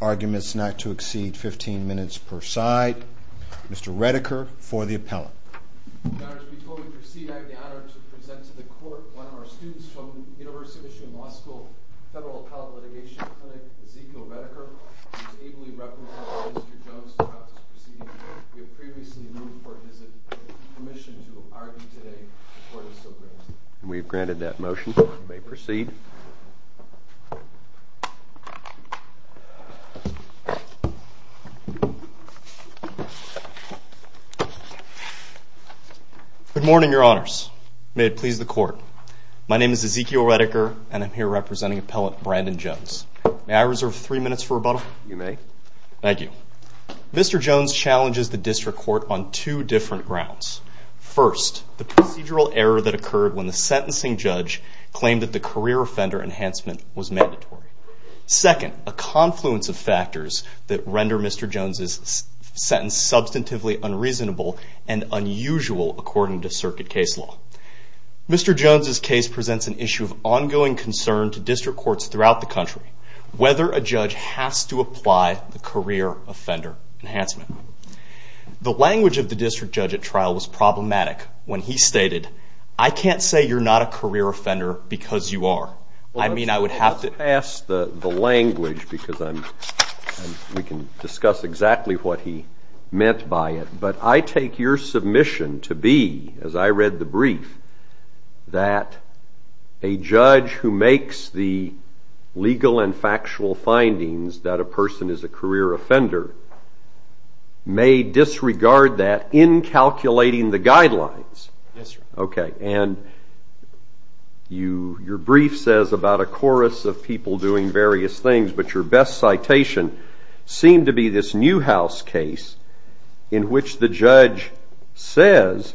Arguments not to exceed 15 minutes per side. Mr. Redeker for the appellate. Before we proceed, I have the honor to present to the court one of our students from the University of Michigan Law School, Federal Appellate Litigation Clinic, Ezekiel Redeker, who has ably represented Mr. Jones throughout his proceedings in the Appellate Litigation Clinic. We have granted that motion. You may proceed. Good morning, your honors. May it please the court. My name is Ezekiel Redeker, and I'm here representing Appellate Brandon Jones. May I reserve three minutes for rebuttal? You may. Thank you. Mr. Jones challenges the district court on two different grounds. First, the procedural error that occurred when the sentencing judge claimed that the career offender enhancement was mandatory. Second, a confluence of factors that render Mr. Jones' sentence substantively unreasonable and unusual according to circuit case law. Mr. Jones' case presents an issue of ongoing concern to district courts throughout the country, whether a judge has to apply the career offender enhancement. The language of the district judge at trial was problematic when he stated, I can't say you're not a career offender because you are. I mean, I would have to... ...pass the language because we can discuss exactly what he meant by it. But I take your submission to be, as I read the brief, that a judge who makes the legal and factual findings that a person is a career offender may disregard that in calculating the guidelines. Yes, sir. Okay, and your brief says about a chorus of people doing various things, but your best citation seemed to be this Newhouse case in which the judge says,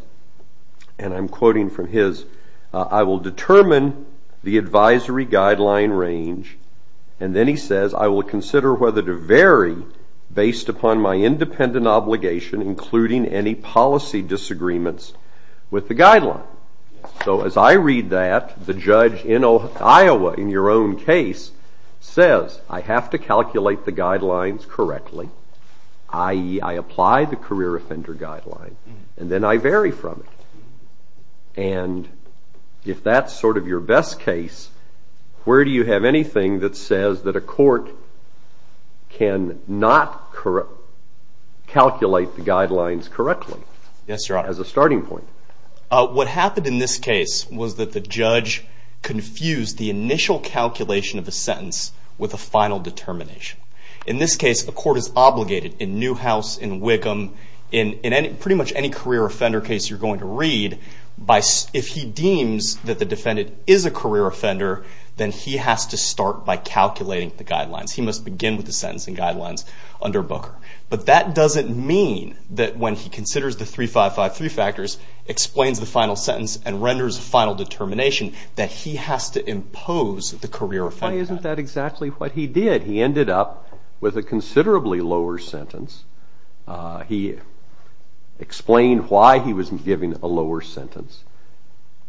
and I'm quoting from his, I will determine the advisory guideline range, and then he says, I will consider whether to vary based upon my independent obligation, including any policy disagreements with the guideline. So as I read that, the judge in Iowa, in your own case, says, I have to calculate the guidelines correctly, i.e., I apply the career offender guideline, and then I vary from it. And if that's sort of your best case, where do you have anything that says that a court can not calculate the guidelines correctly as a starting point? What happened in this case was that the judge confused the initial calculation of a sentence with a final determination. In this case, a court is obligated in Newhouse, in Wickham, in pretty much any career offender case you're going to read, if he deems that the defendant is a career offender, then he has to start by calculating the guidelines. He must begin with the sentence and guidelines under Booker. But that doesn't mean that when he considers the 3553 factors, explains the final sentence, and renders a final determination, that he has to impose the career offender guideline. Why isn't that exactly what he did? He ended up with a considerably lower sentence. He explained why he was given a lower sentence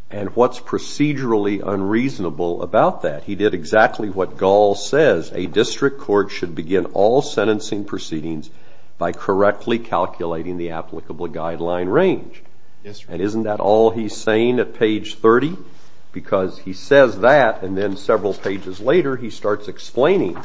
and what's procedurally unreasonable about that. He did exactly what Gall says. A district court should begin all sentencing proceedings by correctly calculating the applicable guideline range. And isn't that all he's saying at page 30? Because he says that, and then several pages later, he starts explaining.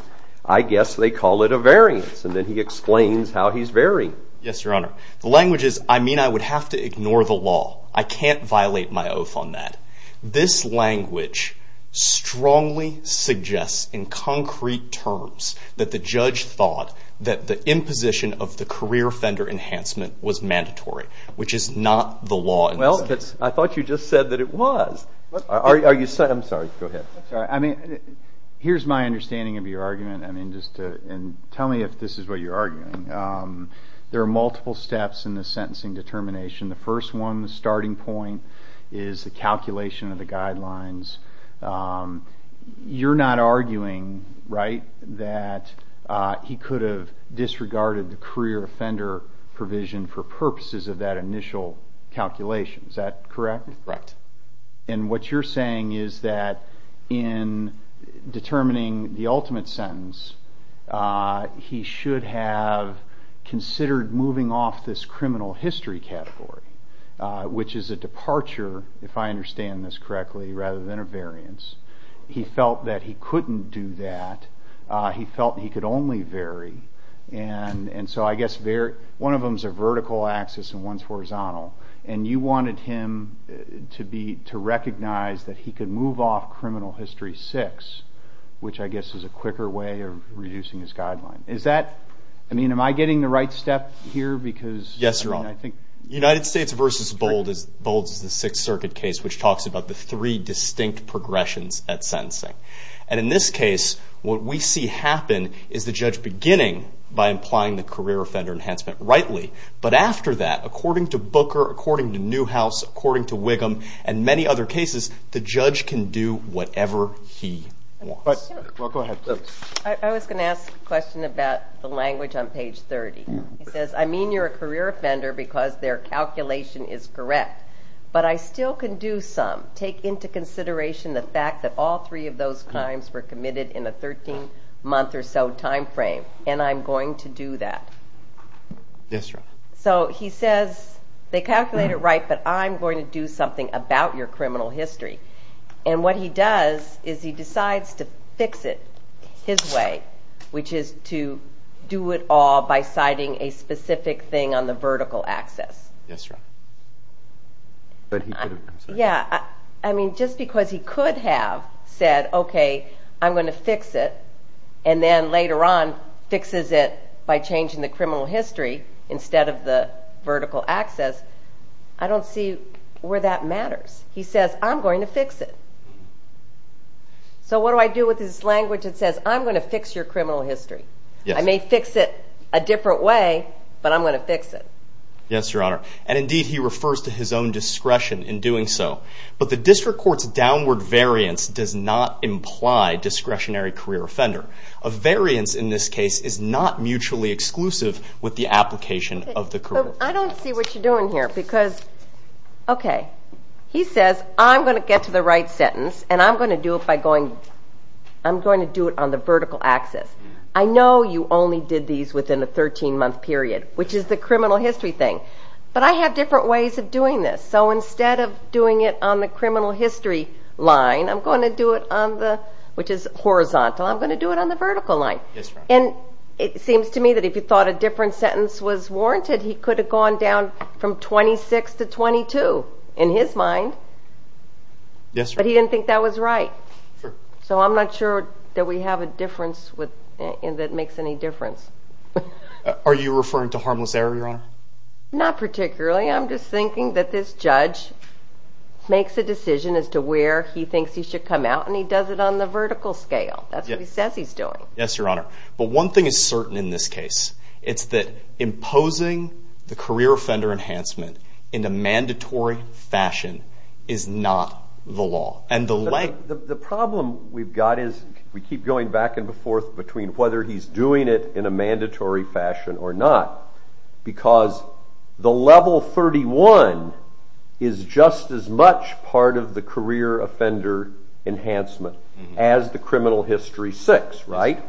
I guess they call it a variance. And then he explains how he's varying. Yes, Your Honor. The language is, I mean, I would have to ignore the law. I can't violate my oath on that. This language strongly suggests in concrete terms that the judge thought that the imposition of the career offender enhancement was mandatory, which is not the law. Well, I thought you just said that it was. I'm sorry. Go ahead. I mean, here's my understanding of your argument. I mean, just tell me if this is what you're arguing. There are multiple steps in the sentencing determination. The first one, the starting point, is the calculation of the guidelines. You're not arguing, right, that he could have disregarded the career offender provision for purposes of that initial calculation. Is that correct? Correct. And what you're saying is that in determining the ultimate sentence, he should have considered moving off this criminal history category, which is a departure, if I understand this correctly, rather than a variance. He felt that he couldn't do that. He felt he could only vary. And so I guess one of them is a vertical axis and one is horizontal. And you wanted him to recognize that he could move off criminal history six, which I guess is a quicker way of reducing his guideline. I mean, am I getting the right step here? Yes, Your Honor. United States v. Bold is the Sixth Circuit case, which talks about the three distinct progressions at sentencing. And in this case, what we see happen is the judge beginning by implying the career offender enhancement rightly. But after that, according to Booker, according to Newhouse, according to Wiggum, and many other cases, the judge can do whatever he wants. Well, go ahead. I was going to ask a question about the language on page 30. It says, I mean you're a career offender because their calculation is correct, but I still can do some. Take into consideration the fact that all three of those crimes were committed in a 13-month or so time frame, and I'm going to do that. Yes, Your Honor. So he says, they calculate it right, but I'm going to do something about your criminal history. And what he does is he decides to fix it his way, which is to do it all by citing a specific thing on the vertical axis. Yes, Your Honor. Yeah, I mean just because he could have said, okay, I'm going to fix it, and then later on fixes it by changing the criminal history instead of the vertical axis, I don't see where that matters. He says, I'm going to fix it. So what do I do with this language that says, I'm going to fix your criminal history? I may fix it a different way, but I'm going to fix it. Yes, Your Honor. And indeed, he refers to his own discretion in doing so. But the district court's downward variance does not imply discretionary career offender. A variance in this case is not mutually exclusive with the application of the career. I don't see what you're doing here, because, okay, he says, I'm going to get to the right sentence, and I'm going to do it on the vertical axis. I know you only did these within a 13-month period, which is the criminal history thing. But I have different ways of doing this. So instead of doing it on the criminal history line, which is horizontal, I'm going to do it on the vertical line. Yes, Your Honor. And it seems to me that if he thought a different sentence was warranted, he could have gone down from 26 to 22 in his mind. Yes, Your Honor. But he didn't think that was right. So I'm not sure that we have a difference that makes any difference. Are you referring to harmless error, Your Honor? Not particularly. I'm just thinking that this judge makes a decision as to where he thinks he should come out, and he does it on the vertical scale. That's what he says he's doing. Yes, Your Honor. But one thing is certain in this case. It's that imposing the career offender enhancement in a mandatory fashion is not the law. The problem we've got is we keep going back and forth between whether he's doing it in a mandatory fashion or not. Because the level 31 is just as much part of the career offender enhancement as the criminal history 6, right?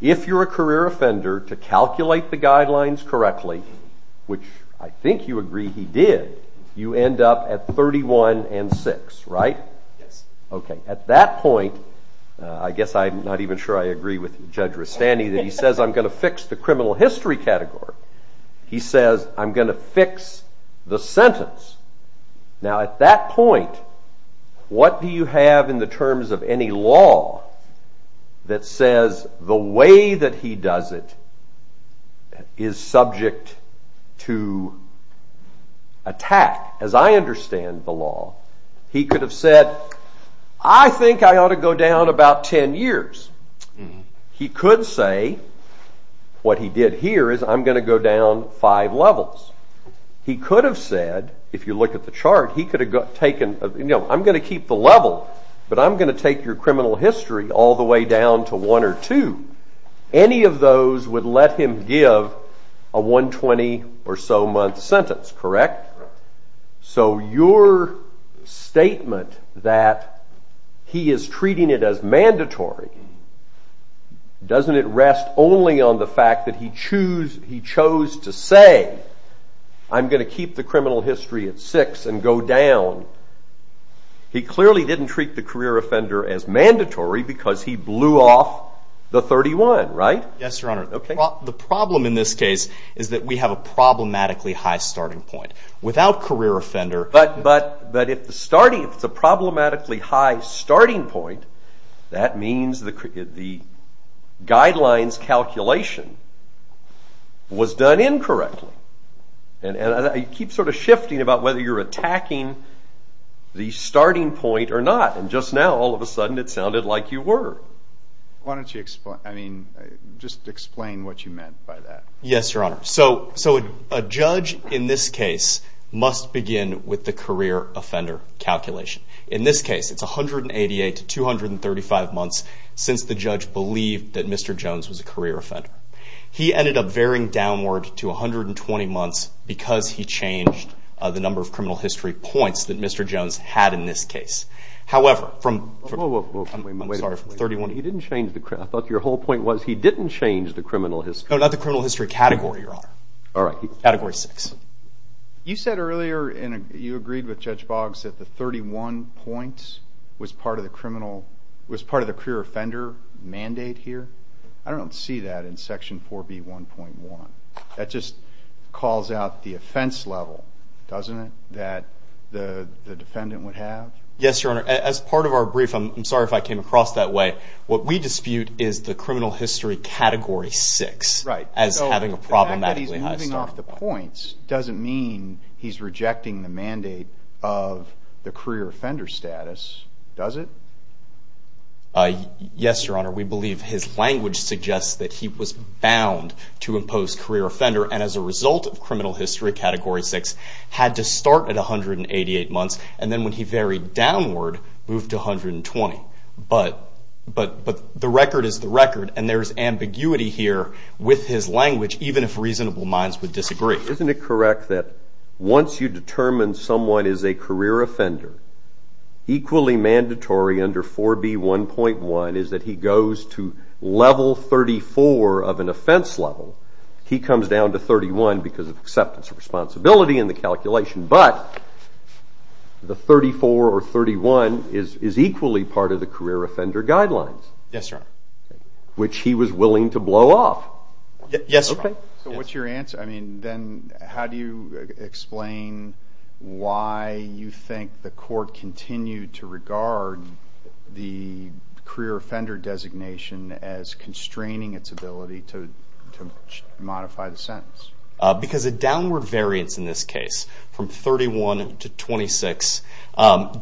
If you're a career offender, to calculate the guidelines correctly, which I think you agree he did, you end up at 31 and 6, right? Yes. Okay. At that point, I guess I'm not even sure I agree with Judge Rustandy that he says I'm going to fix the criminal history category. He says I'm going to fix the sentence. Now, at that point, what do you have in the terms of any law that says the way that he does it is subject to attack? As I understand the law, he could have said, I think I ought to go down about 10 years. He could say what he did here is I'm going to go down five levels. He could have said, if you look at the chart, I'm going to keep the level, but I'm going to take your criminal history all the way down to one or two. Any of those would let him give a 120 or so month sentence, correct? Correct. So your statement that he is treating it as mandatory, doesn't it rest only on the fact that he chose to say I'm going to keep the criminal history at 6 and go down? He clearly didn't treat the career offender as mandatory because he blew off the 31, right? Yes, Your Honor. The problem in this case is that we have a problematically high starting point. Without career offender... But if it's a problematically high starting point, that means the guidelines calculation was done incorrectly. You keep sort of shifting about whether you're attacking the starting point or not. And just now, all of a sudden, it sounded like you were. Why don't you just explain what you meant by that? Yes, Your Honor. So a judge in this case must begin with the career offender calculation. In this case, it's 188 to 235 months since the judge believed that Mr. Jones was a career offender. He ended up varying downward to 120 months because he changed the number of criminal history points that Mr. Jones had in this case. However, from 31... He didn't change the...I thought your whole point was he didn't change the criminal history. No, not the criminal history category, Your Honor. All right. Category 6. You said earlier and you agreed with Judge Boggs that the 31 points was part of the career offender mandate here. I don't see that in Section 4B1.1. That just calls out the offense level, doesn't it, that the defendant would have? Yes, Your Honor. As part of our brief, I'm sorry if I came across that way, what we dispute is the criminal history category 6 as having a problematically high starting point. Right. So the fact that he's moving off the points doesn't mean he's rejecting the mandate of the career offender status, does it? Yes, Your Honor. We believe his language suggests that he was bound to impose career offender, and as a result of criminal history category 6, had to start at 188 months, and then when he varied downward, moved to 120. But the record is the record, and there's ambiguity here with his language, even if reasonable minds would disagree. Isn't it correct that once you determine someone is a career offender, equally mandatory under 4B1.1 is that he goes to level 34 of an offense level. He comes down to 31 because of acceptance of responsibility in the calculation, but the 34 or 31 is equally part of the career offender guidelines. Yes, Your Honor. Which he was willing to blow off. Yes, Your Honor. So what's your answer? I mean, then how do you explain why you think the court continued to regard the career offender designation as constraining its ability to modify the sentence? Because a downward variance in this case, from 31 to 26,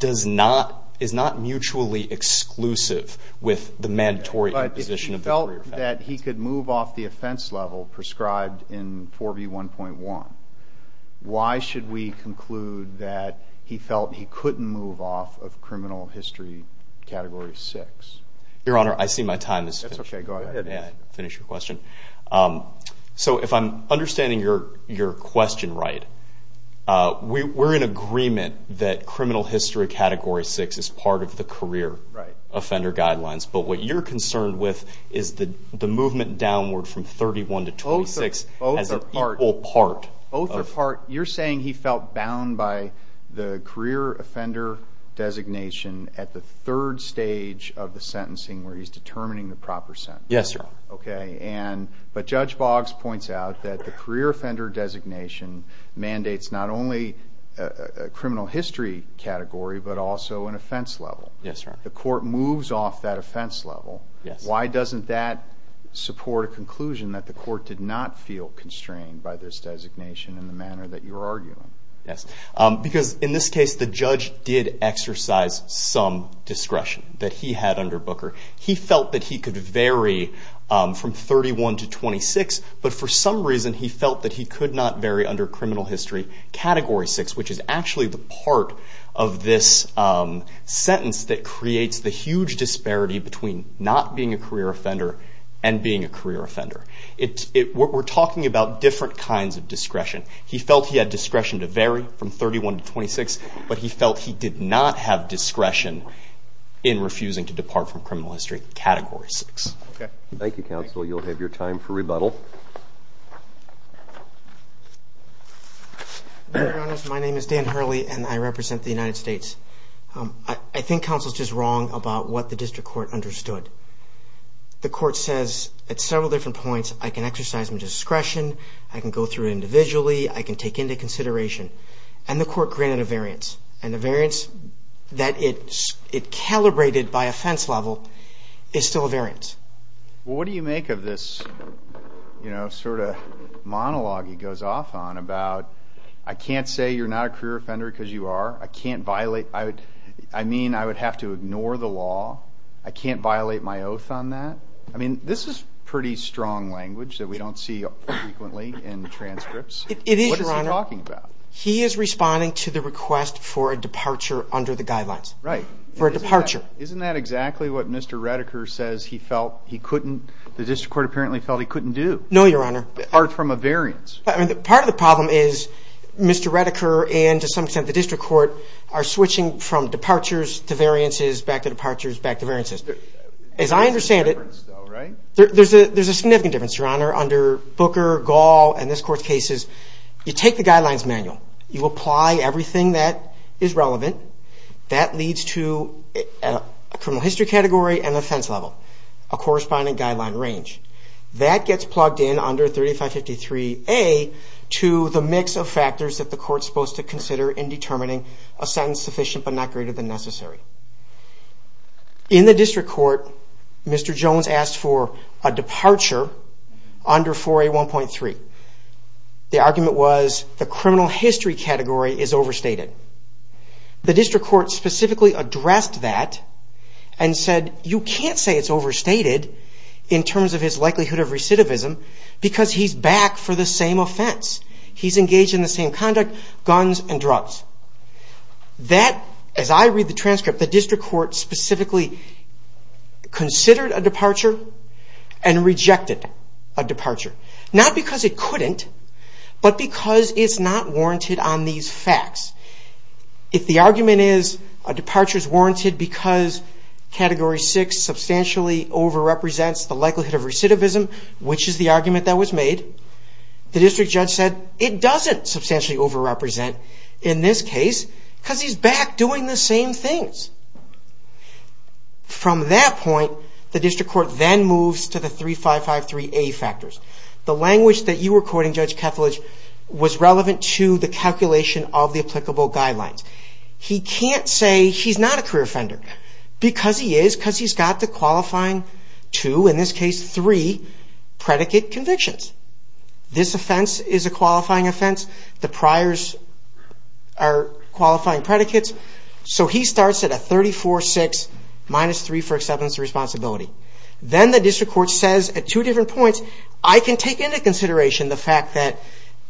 is not mutually exclusive with the mandatory position of the career offender. Why is it that he could move off the offense level prescribed in 4B1.1? Why should we conclude that he felt he couldn't move off of criminal history category 6? Your Honor, I see my time has finished. That's okay, go ahead. I'll finish your question. So if I'm understanding your question right, we're in agreement that criminal history category 6 is part of the career offender guidelines, but what you're concerned with is the movement downward from 31 to 26 as an equal part. Both are part. You're saying he felt bound by the career offender designation at the third stage of the sentencing, where he's determining the proper sentence. Yes, Your Honor. Okay, but Judge Boggs points out that the career offender designation mandates not only a criminal history category, but also an offense level. Yes, Your Honor. If the court moves off that offense level, why doesn't that support a conclusion that the court did not feel constrained by this designation in the manner that you're arguing? Yes, because in this case the judge did exercise some discretion that he had under Booker. He felt that he could vary from 31 to 26, but for some reason he felt that he could not vary under criminal history category 6, which is actually the part of this sentence that creates the huge disparity between not being a career offender and being a career offender. We're talking about different kinds of discretion. He felt he had discretion to vary from 31 to 26, but he felt he did not have discretion in refusing to depart from criminal history category 6. Thank you, counsel. You'll have your time for rebuttal. Your Honor, my name is Dan Hurley, and I represent the United States. I think counsel is just wrong about what the district court understood. The court says at several different points I can exercise my discretion, I can go through it individually, I can take into consideration, and the court granted a variance, and the variance that it calibrated by offense level is still a variance. Well, what do you make of this sort of monologue he goes off on about, I can't say you're not a career offender because you are, I mean I would have to ignore the law, I can't violate my oath on that? I mean this is pretty strong language that we don't see frequently in transcripts. It is, Your Honor. What is he talking about? He is responding to the request for a departure under the guidelines. Right. For a departure. Isn't that exactly what Mr. Redeker says he felt he couldn't, the district court apparently felt he couldn't do? No, Your Honor. Apart from a variance. Part of the problem is Mr. Redeker and to some extent the district court are switching from departures to variances, back to departures, back to variances. As I understand it, there's a significant difference, Your Honor, under Booker, Gall, and this court's cases. You take the guidelines manual. You apply everything that is relevant. That leads to a criminal history category and offense level, a corresponding guideline range. That gets plugged in under 3553A to the mix of factors that the court's supposed to consider in determining a sentence sufficient but not greater than necessary. In the district court, Mr. Jones asked for a departure under 4A1.3. The argument was the criminal history category is overstated. The district court specifically addressed that and said, you can't say it's overstated in terms of his likelihood of recidivism because he's back for the same offense. He's engaged in the same conduct, guns and drugs. That, as I read the transcript, the district court specifically considered a departure and rejected a departure. Not because it couldn't, but because it's not warranted on these facts. If the argument is a departure is warranted because category 6 substantially overrepresents the likelihood of recidivism, which is the argument that was made, the district judge said, it doesn't substantially overrepresent in this case because he's back doing the same things. From that point, the district court then moves to the 3553A factors. The language that you were quoting, Judge Kethledge, was relevant to the calculation of the applicable guidelines. He can't say he's not a career offender. Because he is, because he's got the qualifying two, in this case three, predicate convictions. This offense is a qualifying offense. The priors are qualifying predicates. He starts at a 34-6, minus three for acceptance of responsibility. Then the district court says at two different points, I can take into consideration the fact that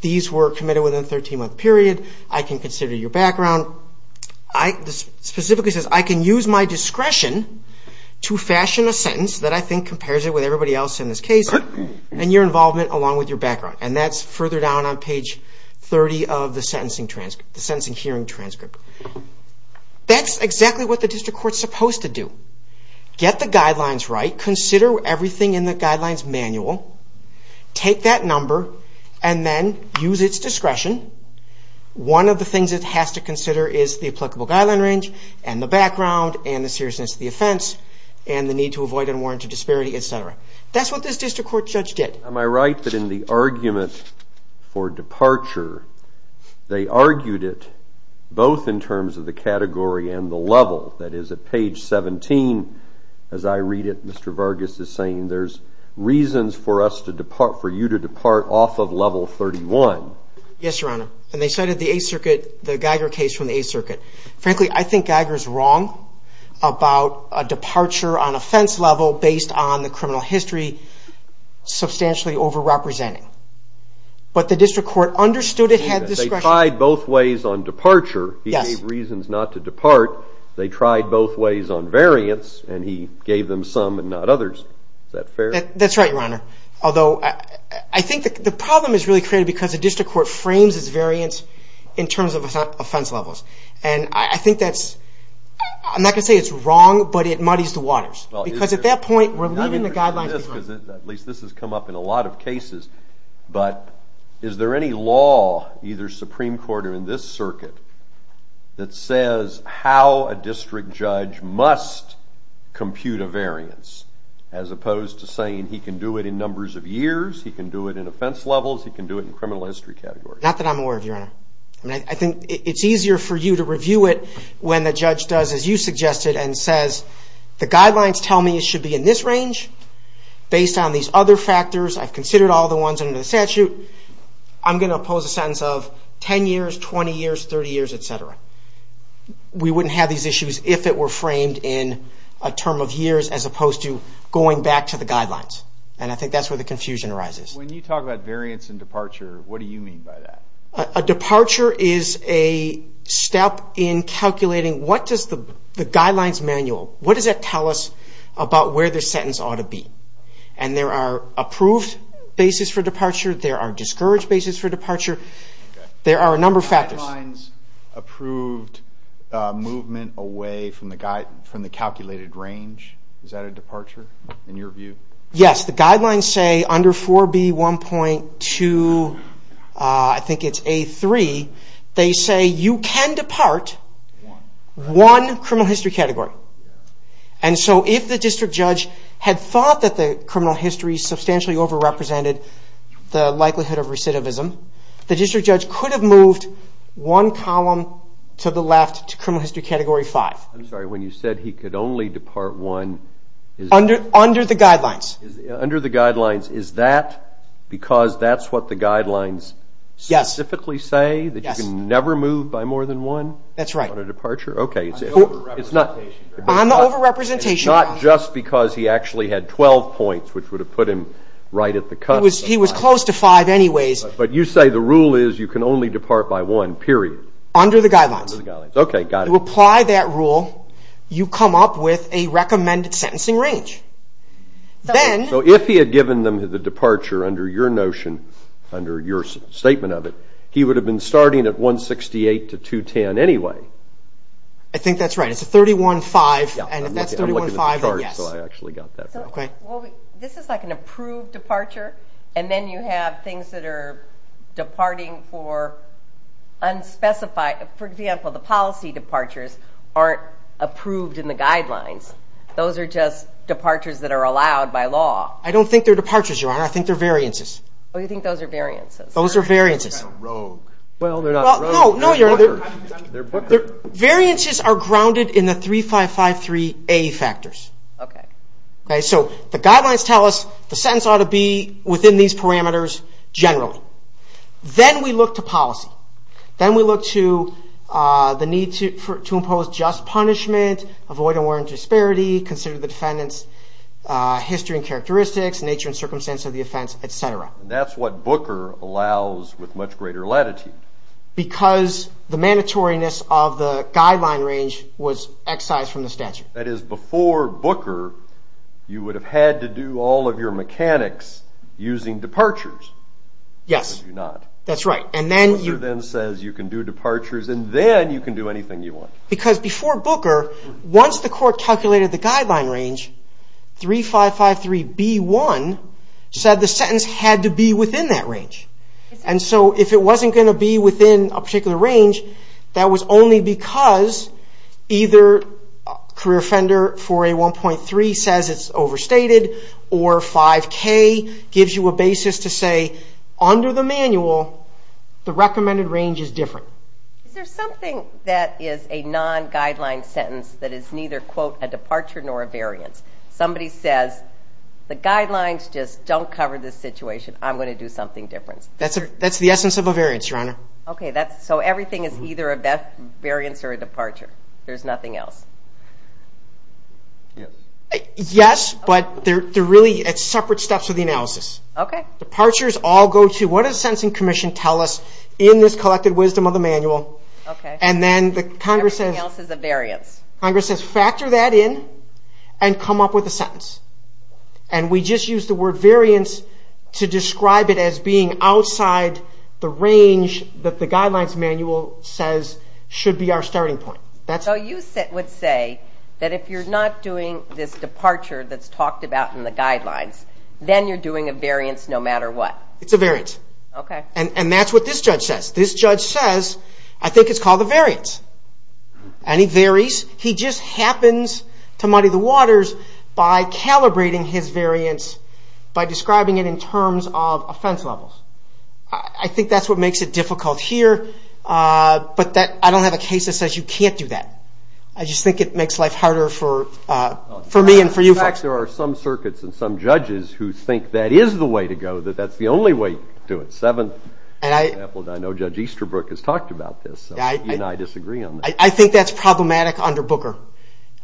these were committed within a 13-month period. I can consider your background. Specifically says, I can use my discretion to fashion a sentence that I think compares it with everybody else in this case and your involvement along with your background. That's further down on page 30 of the sentencing hearing transcript. That's exactly what the district court is supposed to do. Get the guidelines right. Consider everything in the guidelines manual. Take that number and then use its discretion. One of the things it has to consider is the applicable guideline range and the background and the seriousness of the offense and the need to avoid unwarranted disparity, etc. That's what this district court judge did. Am I right that in the argument for departure, they argued it both in terms of the category and the level? That is, at page 17, as I read it, Mr. Vargas is saying, there's reasons for you to depart off of level 31. Yes, Your Honor. They cited the Geiger case from the Eighth Circuit. Frankly, I think Geiger is wrong about a departure on offense level based on the criminal history substantially over-representing. But the district court understood it had discretion. They tried both ways on departure. He gave reasons not to depart. They tried both ways on variance, and he gave them some and not others. Is that fair? That's right, Your Honor, although I think the problem is really created because the district court frames its variance in terms of offense levels. I'm not going to say it's wrong, but it muddies the waters because at that point we're leaving the guidelines behind. At least this has come up in a lot of cases. But is there any law, either Supreme Court or in this circuit, that says how a district judge must compute a variance as opposed to saying he can do it in numbers of years, he can do it in offense levels, he can do it in criminal history categories? Not that I'm aware of, Your Honor. I think it's easier for you to review it when the judge does, as you suggested, and says the guidelines tell me it should be in this range based on these other factors. I've considered all the ones under the statute. I'm going to oppose a sentence of 10 years, 20 years, 30 years, et cetera. We wouldn't have these issues if it were framed in a term of years as opposed to going back to the guidelines, and I think that's where the confusion arises. When you talk about variance and departure, what do you mean by that? A departure is a step in calculating what does the guidelines manual, what does that tell us about where the sentence ought to be? And there are approved basis for departure. There are discouraged basis for departure. There are a number of factors. Guidelines approved movement away from the calculated range, is that a departure in your view? Yes, the guidelines say under 4B1.2, I think it's A3, they say you can depart one criminal history category. And so if the district judge had thought that the criminal history substantially overrepresented the likelihood of recidivism, the district judge could have moved one column to the left to criminal history category 5. I'm sorry, when you said he could only depart one? Under the guidelines. Under the guidelines. Is that because that's what the guidelines specifically say? Yes. That you can never move by more than one? That's right. On a departure? Okay. On the overrepresentation. And not just because he actually had 12 points, which would have put him right at the cut. He was close to five anyways. But you say the rule is you can only depart by one, period. Under the guidelines. Okay, got it. To apply that rule, you come up with a recommended sentencing range. So if he had given them the departure under your notion, under your statement of it, he would have been starting at 168 to 210 anyway. I think that's right. It's a 31-5, and if that's 31-5, then yes. I'm looking at the chart, so I actually got that right. This is like an approved departure, and then you have things that are departing for unspecified. For example, the policy departures aren't approved in the guidelines. Those are just departures that are allowed by law. I don't think they're departures, Your Honor. I think they're variances. Oh, you think those are variances? Those are variances. Rogue. Well, they're not rogue. No, Your Honor. They're Booker. Variances are grounded in the 3553A factors. Okay. So the guidelines tell us the sentence ought to be within these parameters generally. Then we look to policy. Then we look to the need to impose just punishment, avoid unwarranted disparity, consider the defendant's history and characteristics, nature and circumstance of the offense, et cetera. That's what Booker allows with much greater latitude. Because the mandatoriness of the guideline range was excised from the statute. That is, before Booker, you would have had to do all of your mechanics using departures. Yes. You do not. That's right. Booker then says you can do departures and then you can do anything you want. Because before Booker, once the court calculated the guideline range, 3553B1 said the sentence had to be within that range. And so if it wasn't going to be within a particular range, that was only because either career offender 4A1.3 says it's overstated or 5K gives you a basis to say under the manual the recommended range is different. Is there something that is a non-guideline sentence that is neither, quote, a departure nor a variance? Somebody says the guidelines just don't cover this situation. I'm going to do something different. That's the essence of a variance, Your Honor. Okay. So everything is either a variance or a departure. There's nothing else. Yes. Yes, but they're really at separate steps of the analysis. Okay. Departures all go to what does the Sentencing Commission tell us in this collected wisdom of the manual? Okay. And then Congress says factor that in and come up with a sentence. And we just use the word variance to describe it as being outside the range that the guidelines manual says should be our starting point. So you would say that if you're not doing this departure that's talked about in the guidelines, then you're doing a variance no matter what? It's a variance. Okay. And that's what this judge says. This judge says, I think it's called a variance. And he varies. He just happens to muddy the waters by calibrating his variance by describing it in terms of offense levels. I think that's what makes it difficult here. But I don't have a case that says you can't do that. I just think it makes life harder for me and for you folks. In fact, there are some circuits and some judges who think that is the way to go, that that's the only way to do it. For example, I know Judge Easterbrook has talked about this. You and I disagree on that. I think that's problematic under Booker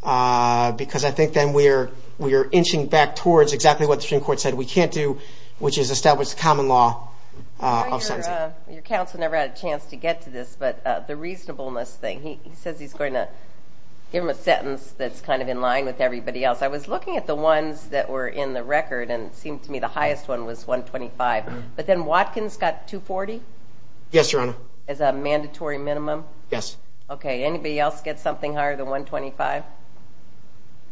because I think then we're inching back towards exactly what the Supreme Court said we can't do, which is establish the common law of sentencing. Your counsel never had a chance to get to this, but the reasonableness thing. He says he's going to give him a sentence that's kind of in line with everybody else. I was looking at the ones that were in the record, and it seemed to me the highest one was 125. But then Watkins got 240? Yes, Your Honor. As a mandatory minimum? Yes. Okay. Anybody else get something higher than 125?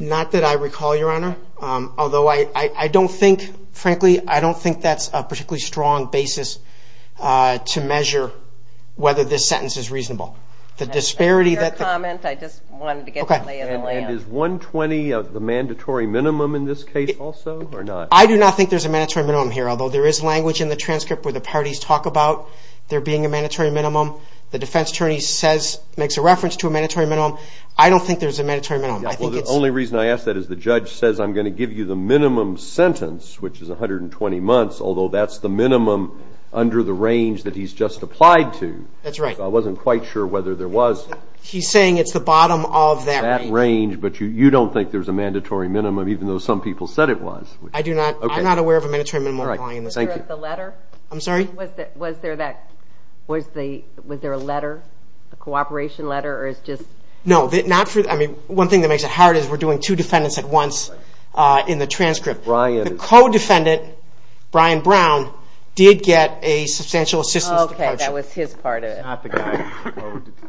Not that I recall, Your Honor. Although I don't think, frankly, I don't think that's a particularly strong basis to measure whether this sentence is reasonable. Your comment, I just wanted to get the lay of the land. Okay. And is 120 the mandatory minimum in this case also or not? I do not think there's a mandatory minimum here, although there is language in the transcript where the parties talk about there being a mandatory minimum. The defense attorney makes a reference to a mandatory minimum. I don't think there's a mandatory minimum. The only reason I ask that is the judge says I'm going to give you the minimum sentence, which is 120 months, although that's the minimum under the range that he's just applied to. That's right. I wasn't quite sure whether there was. He's saying it's the bottom of that range. That range, but you don't think there's a mandatory minimum, even though some people said it was. I do not. Okay. I'm not aware of a mandatory minimum. All right. Thank you. Was there a letter? I'm sorry? Was there a letter, a cooperation letter? No. One thing that makes it hard is we're doing two defendants at once in the transcript. The co-defendant, Brian Brown, did get a substantial assistance departure. Okay. That was his part of it.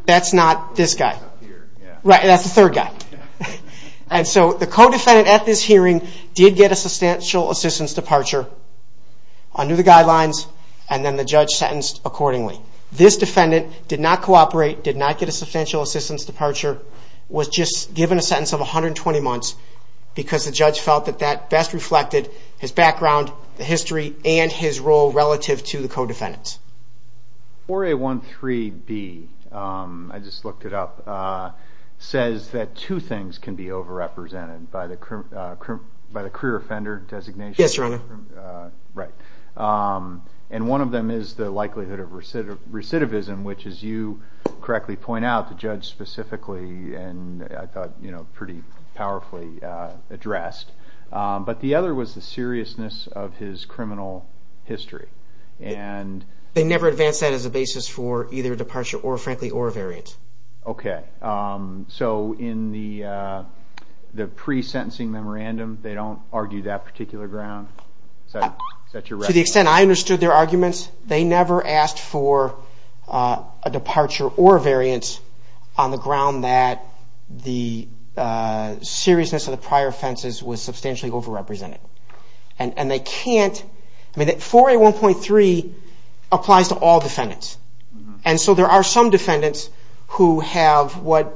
That's not this guy. Right. That's the third guy. And so the co-defendant at this hearing did get a substantial assistance departure under the guidelines, and then the judge sentenced accordingly. This defendant did not cooperate, did not get a substantial assistance departure, was just given a sentence of 120 months because the judge felt that that best reflected his background, the history, and his role relative to the co-defendants. 4A13B, I just looked it up, says that two things can be overrepresented by the career offender designation. Yes, Your Honor. Right. And one of them is the likelihood of recidivism, which, as you correctly point out, the judge specifically and, I thought, pretty powerfully addressed. But the other was the seriousness of his criminal history. They never advanced that as a basis for either departure or, frankly, or a variant. Okay. So in the pre-sentencing memorandum, they don't argue that particular ground? To the extent I understood their arguments, they never asked for a departure or a variance on the ground that the seriousness of the prior offenses was substantially overrepresented. And they can't, I mean, 4A1.3 applies to all defendants. And so there are some defendants who have what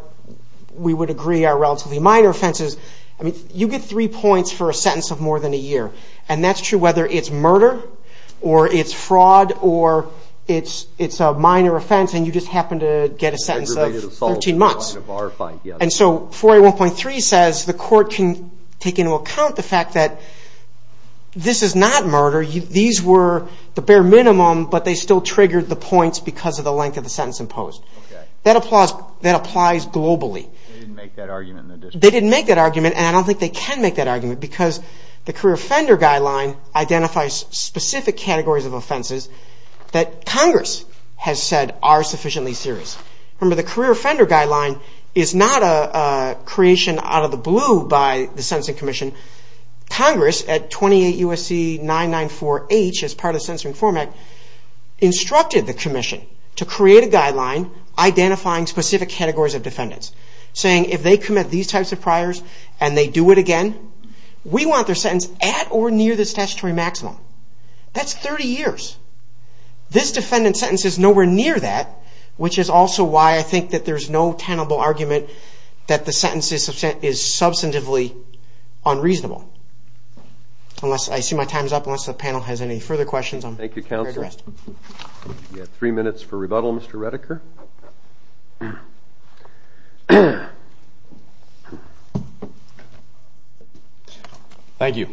we would agree are relatively minor offenses. I mean, you get three points for a sentence of more than a year. And that's true whether it's murder or it's fraud or it's a minor offense and you just happen to get a sentence of 13 months. And so 4A1.3 says the court can take into account the fact that this is not murder. These were the bare minimum, but they still triggered the points because of the length of the sentence imposed. Okay. They didn't make that argument in the district? They didn't make that argument and I don't think they can make that argument because the Career Offender Guideline identifies specific categories of offenses that Congress has said are sufficiently serious. Remember, the Career Offender Guideline is not a creation out of the blue by the Sentencing Commission. Congress at 28 U.S.C. 994H as part of the Censoring Form Act instructed the commission to create a guideline identifying specific categories of defendants saying if they commit these types of priors and they do it again, we want their sentence at or near the statutory maximum. That's 30 years. This defendant's sentence is nowhere near that, which is also why I think that there's no tenable argument that the sentence is substantively unreasonable. I see my time is up. Unless the panel has any further questions, I'm ready to rest. Thank you, counsel. We have three minutes for rebuttal, Mr. Redeker. Thank you.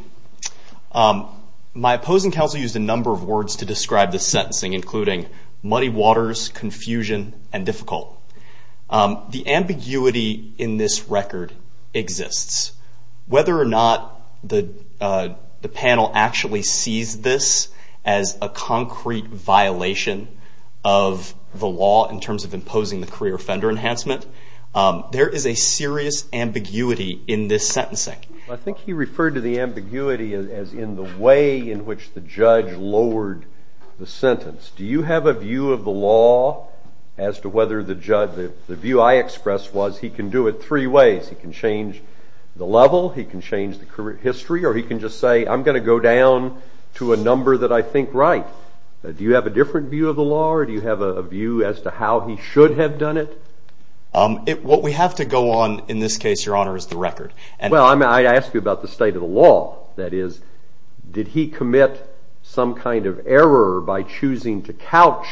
My opposing counsel used a number of words to describe the sentencing, including muddy waters, confusion, and difficult. The ambiguity in this record exists. Whether or not the panel actually sees this as a concrete violation of the law in terms of imposing the career offender enhancement, there is a serious ambiguity in this sentencing. I think he referred to the ambiguity as in the way in which the judge lowered the sentence. Do you have a view of the law as to whether the view I expressed was he can do it three ways. He can change the level, he can change the history, or he can just say I'm going to go down to a number that I think right. Do you have a different view of the law or do you have a view as to how he should have done it? What we have to go on in this case, Your Honor, is the record. Well, I ask you about the state of the law. That is, did he commit some kind of error by choosing to couch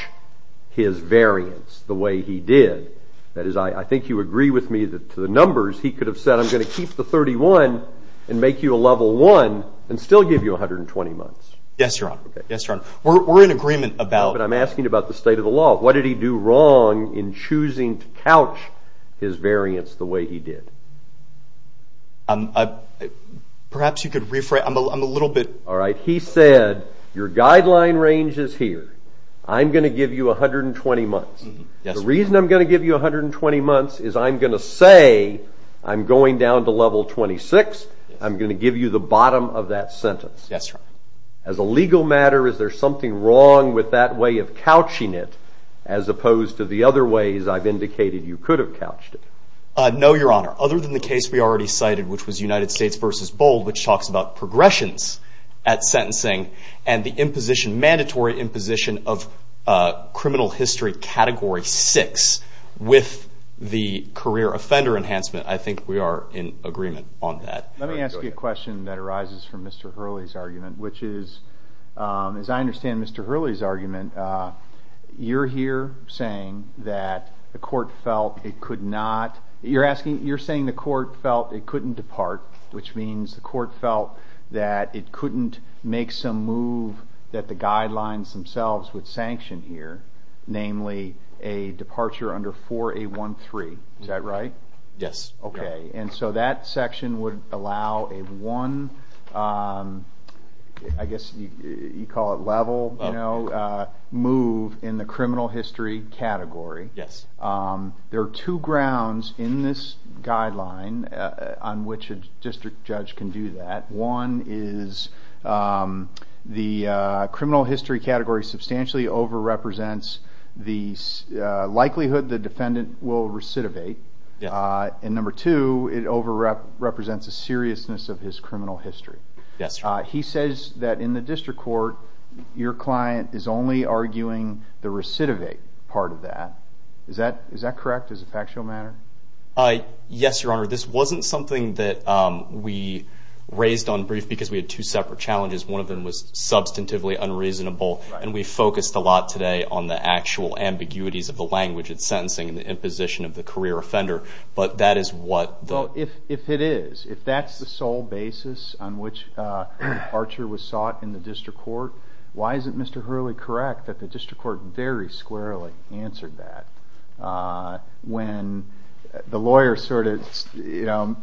his variance the way he did? That is, I think you agree with me that to the numbers he could have said I'm going to keep the 31 and make you a level one and still give you 120 months. Yes, Your Honor. Yes, Your Honor. We're in agreement about... But I'm asking about the state of the law. What did he do wrong in choosing to couch his variance the way he did? Perhaps you could rephrase. I'm a little bit... All right. He said your guideline range is here. I'm going to give you 120 months. Yes, Your Honor. The reason I'm going to give you 120 months is I'm going to say I'm going down to level 26. I'm going to give you the bottom of that sentence. Yes, Your Honor. As a legal matter, is there something wrong with that way of couching it as opposed to the other ways I've indicated you could have couched it? No, Your Honor. Other than the case we already cited, which was United States v. Bold, which talks about progressions at sentencing and the mandatory imposition of criminal history category six with the career offender enhancement, I think we are in agreement on that. Let me ask you a question that arises from Mr. Hurley's argument, which is, as I understand Mr. Hurley's argument, you're here saying that the court felt it couldn't depart, which means the court felt that it couldn't make some move that the guidelines themselves would sanction here, namely a departure under 4A13. Is that right? Yes. Okay, and so that section would allow a one, I guess you call it level move in the criminal history category. Yes. There are two grounds in this guideline on which a district judge can do that. One is the criminal history category substantially over-represents the likelihood the defendant will recidivate, and number two, it over-represents the seriousness of his criminal history. Yes, Your Honor. He says that in the district court, your client is only arguing the recidivate part of that. Is that correct as a factual matter? Yes, Your Honor. This wasn't something that we raised on brief because we had two separate challenges. One of them was substantively unreasonable, and we focused a lot today on the actual ambiguities of the language it's sentencing and the imposition of the career offender, but that is what the— Well, if it is, if that's the sole basis on which departure was sought in the district court, why isn't Mr. Hurley correct that the district court very squarely answered that when the lawyer sort of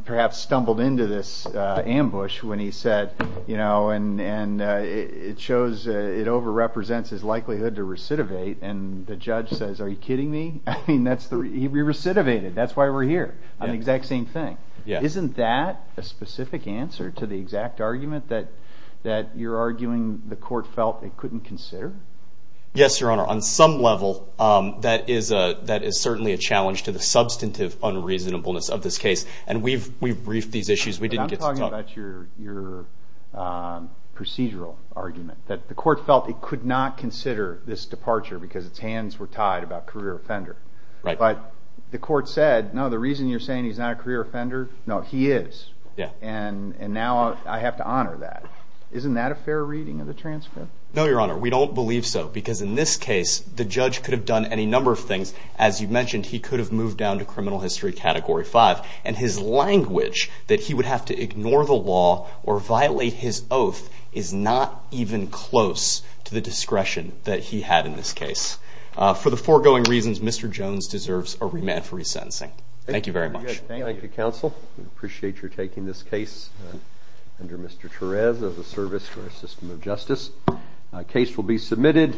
perhaps stumbled into this ambush when he said, you know, and it shows it over-represents his likelihood to recidivate, and the judge says, are you kidding me? I mean, he recidivated. That's why we're here on the exact same thing. Isn't that a specific answer to the exact argument that you're arguing the court felt it couldn't consider? Yes, Your Honor. On some level, that is certainly a challenge to the substantive unreasonableness of this case, and we've briefed these issues. I'm talking about your procedural argument that the court felt it could not consider this departure because its hands were tied about career offender. But the court said, no, the reason you're saying he's not a career offender, no, he is, and now I have to honor that. Isn't that a fair reading of the transcript? No, Your Honor. We don't believe so because in this case the judge could have done any number of things. As you mentioned, he could have moved down to criminal history category five, and his language that he would have to ignore the law or violate his oath is not even close to the discretion that he had in this case. For the foregoing reasons, Mr. Jones deserves a remand for resentencing. Thank you very much. Thank you, counsel. We appreciate your taking this case under Mr. Torres as a service for our system of justice. A case will be submitted.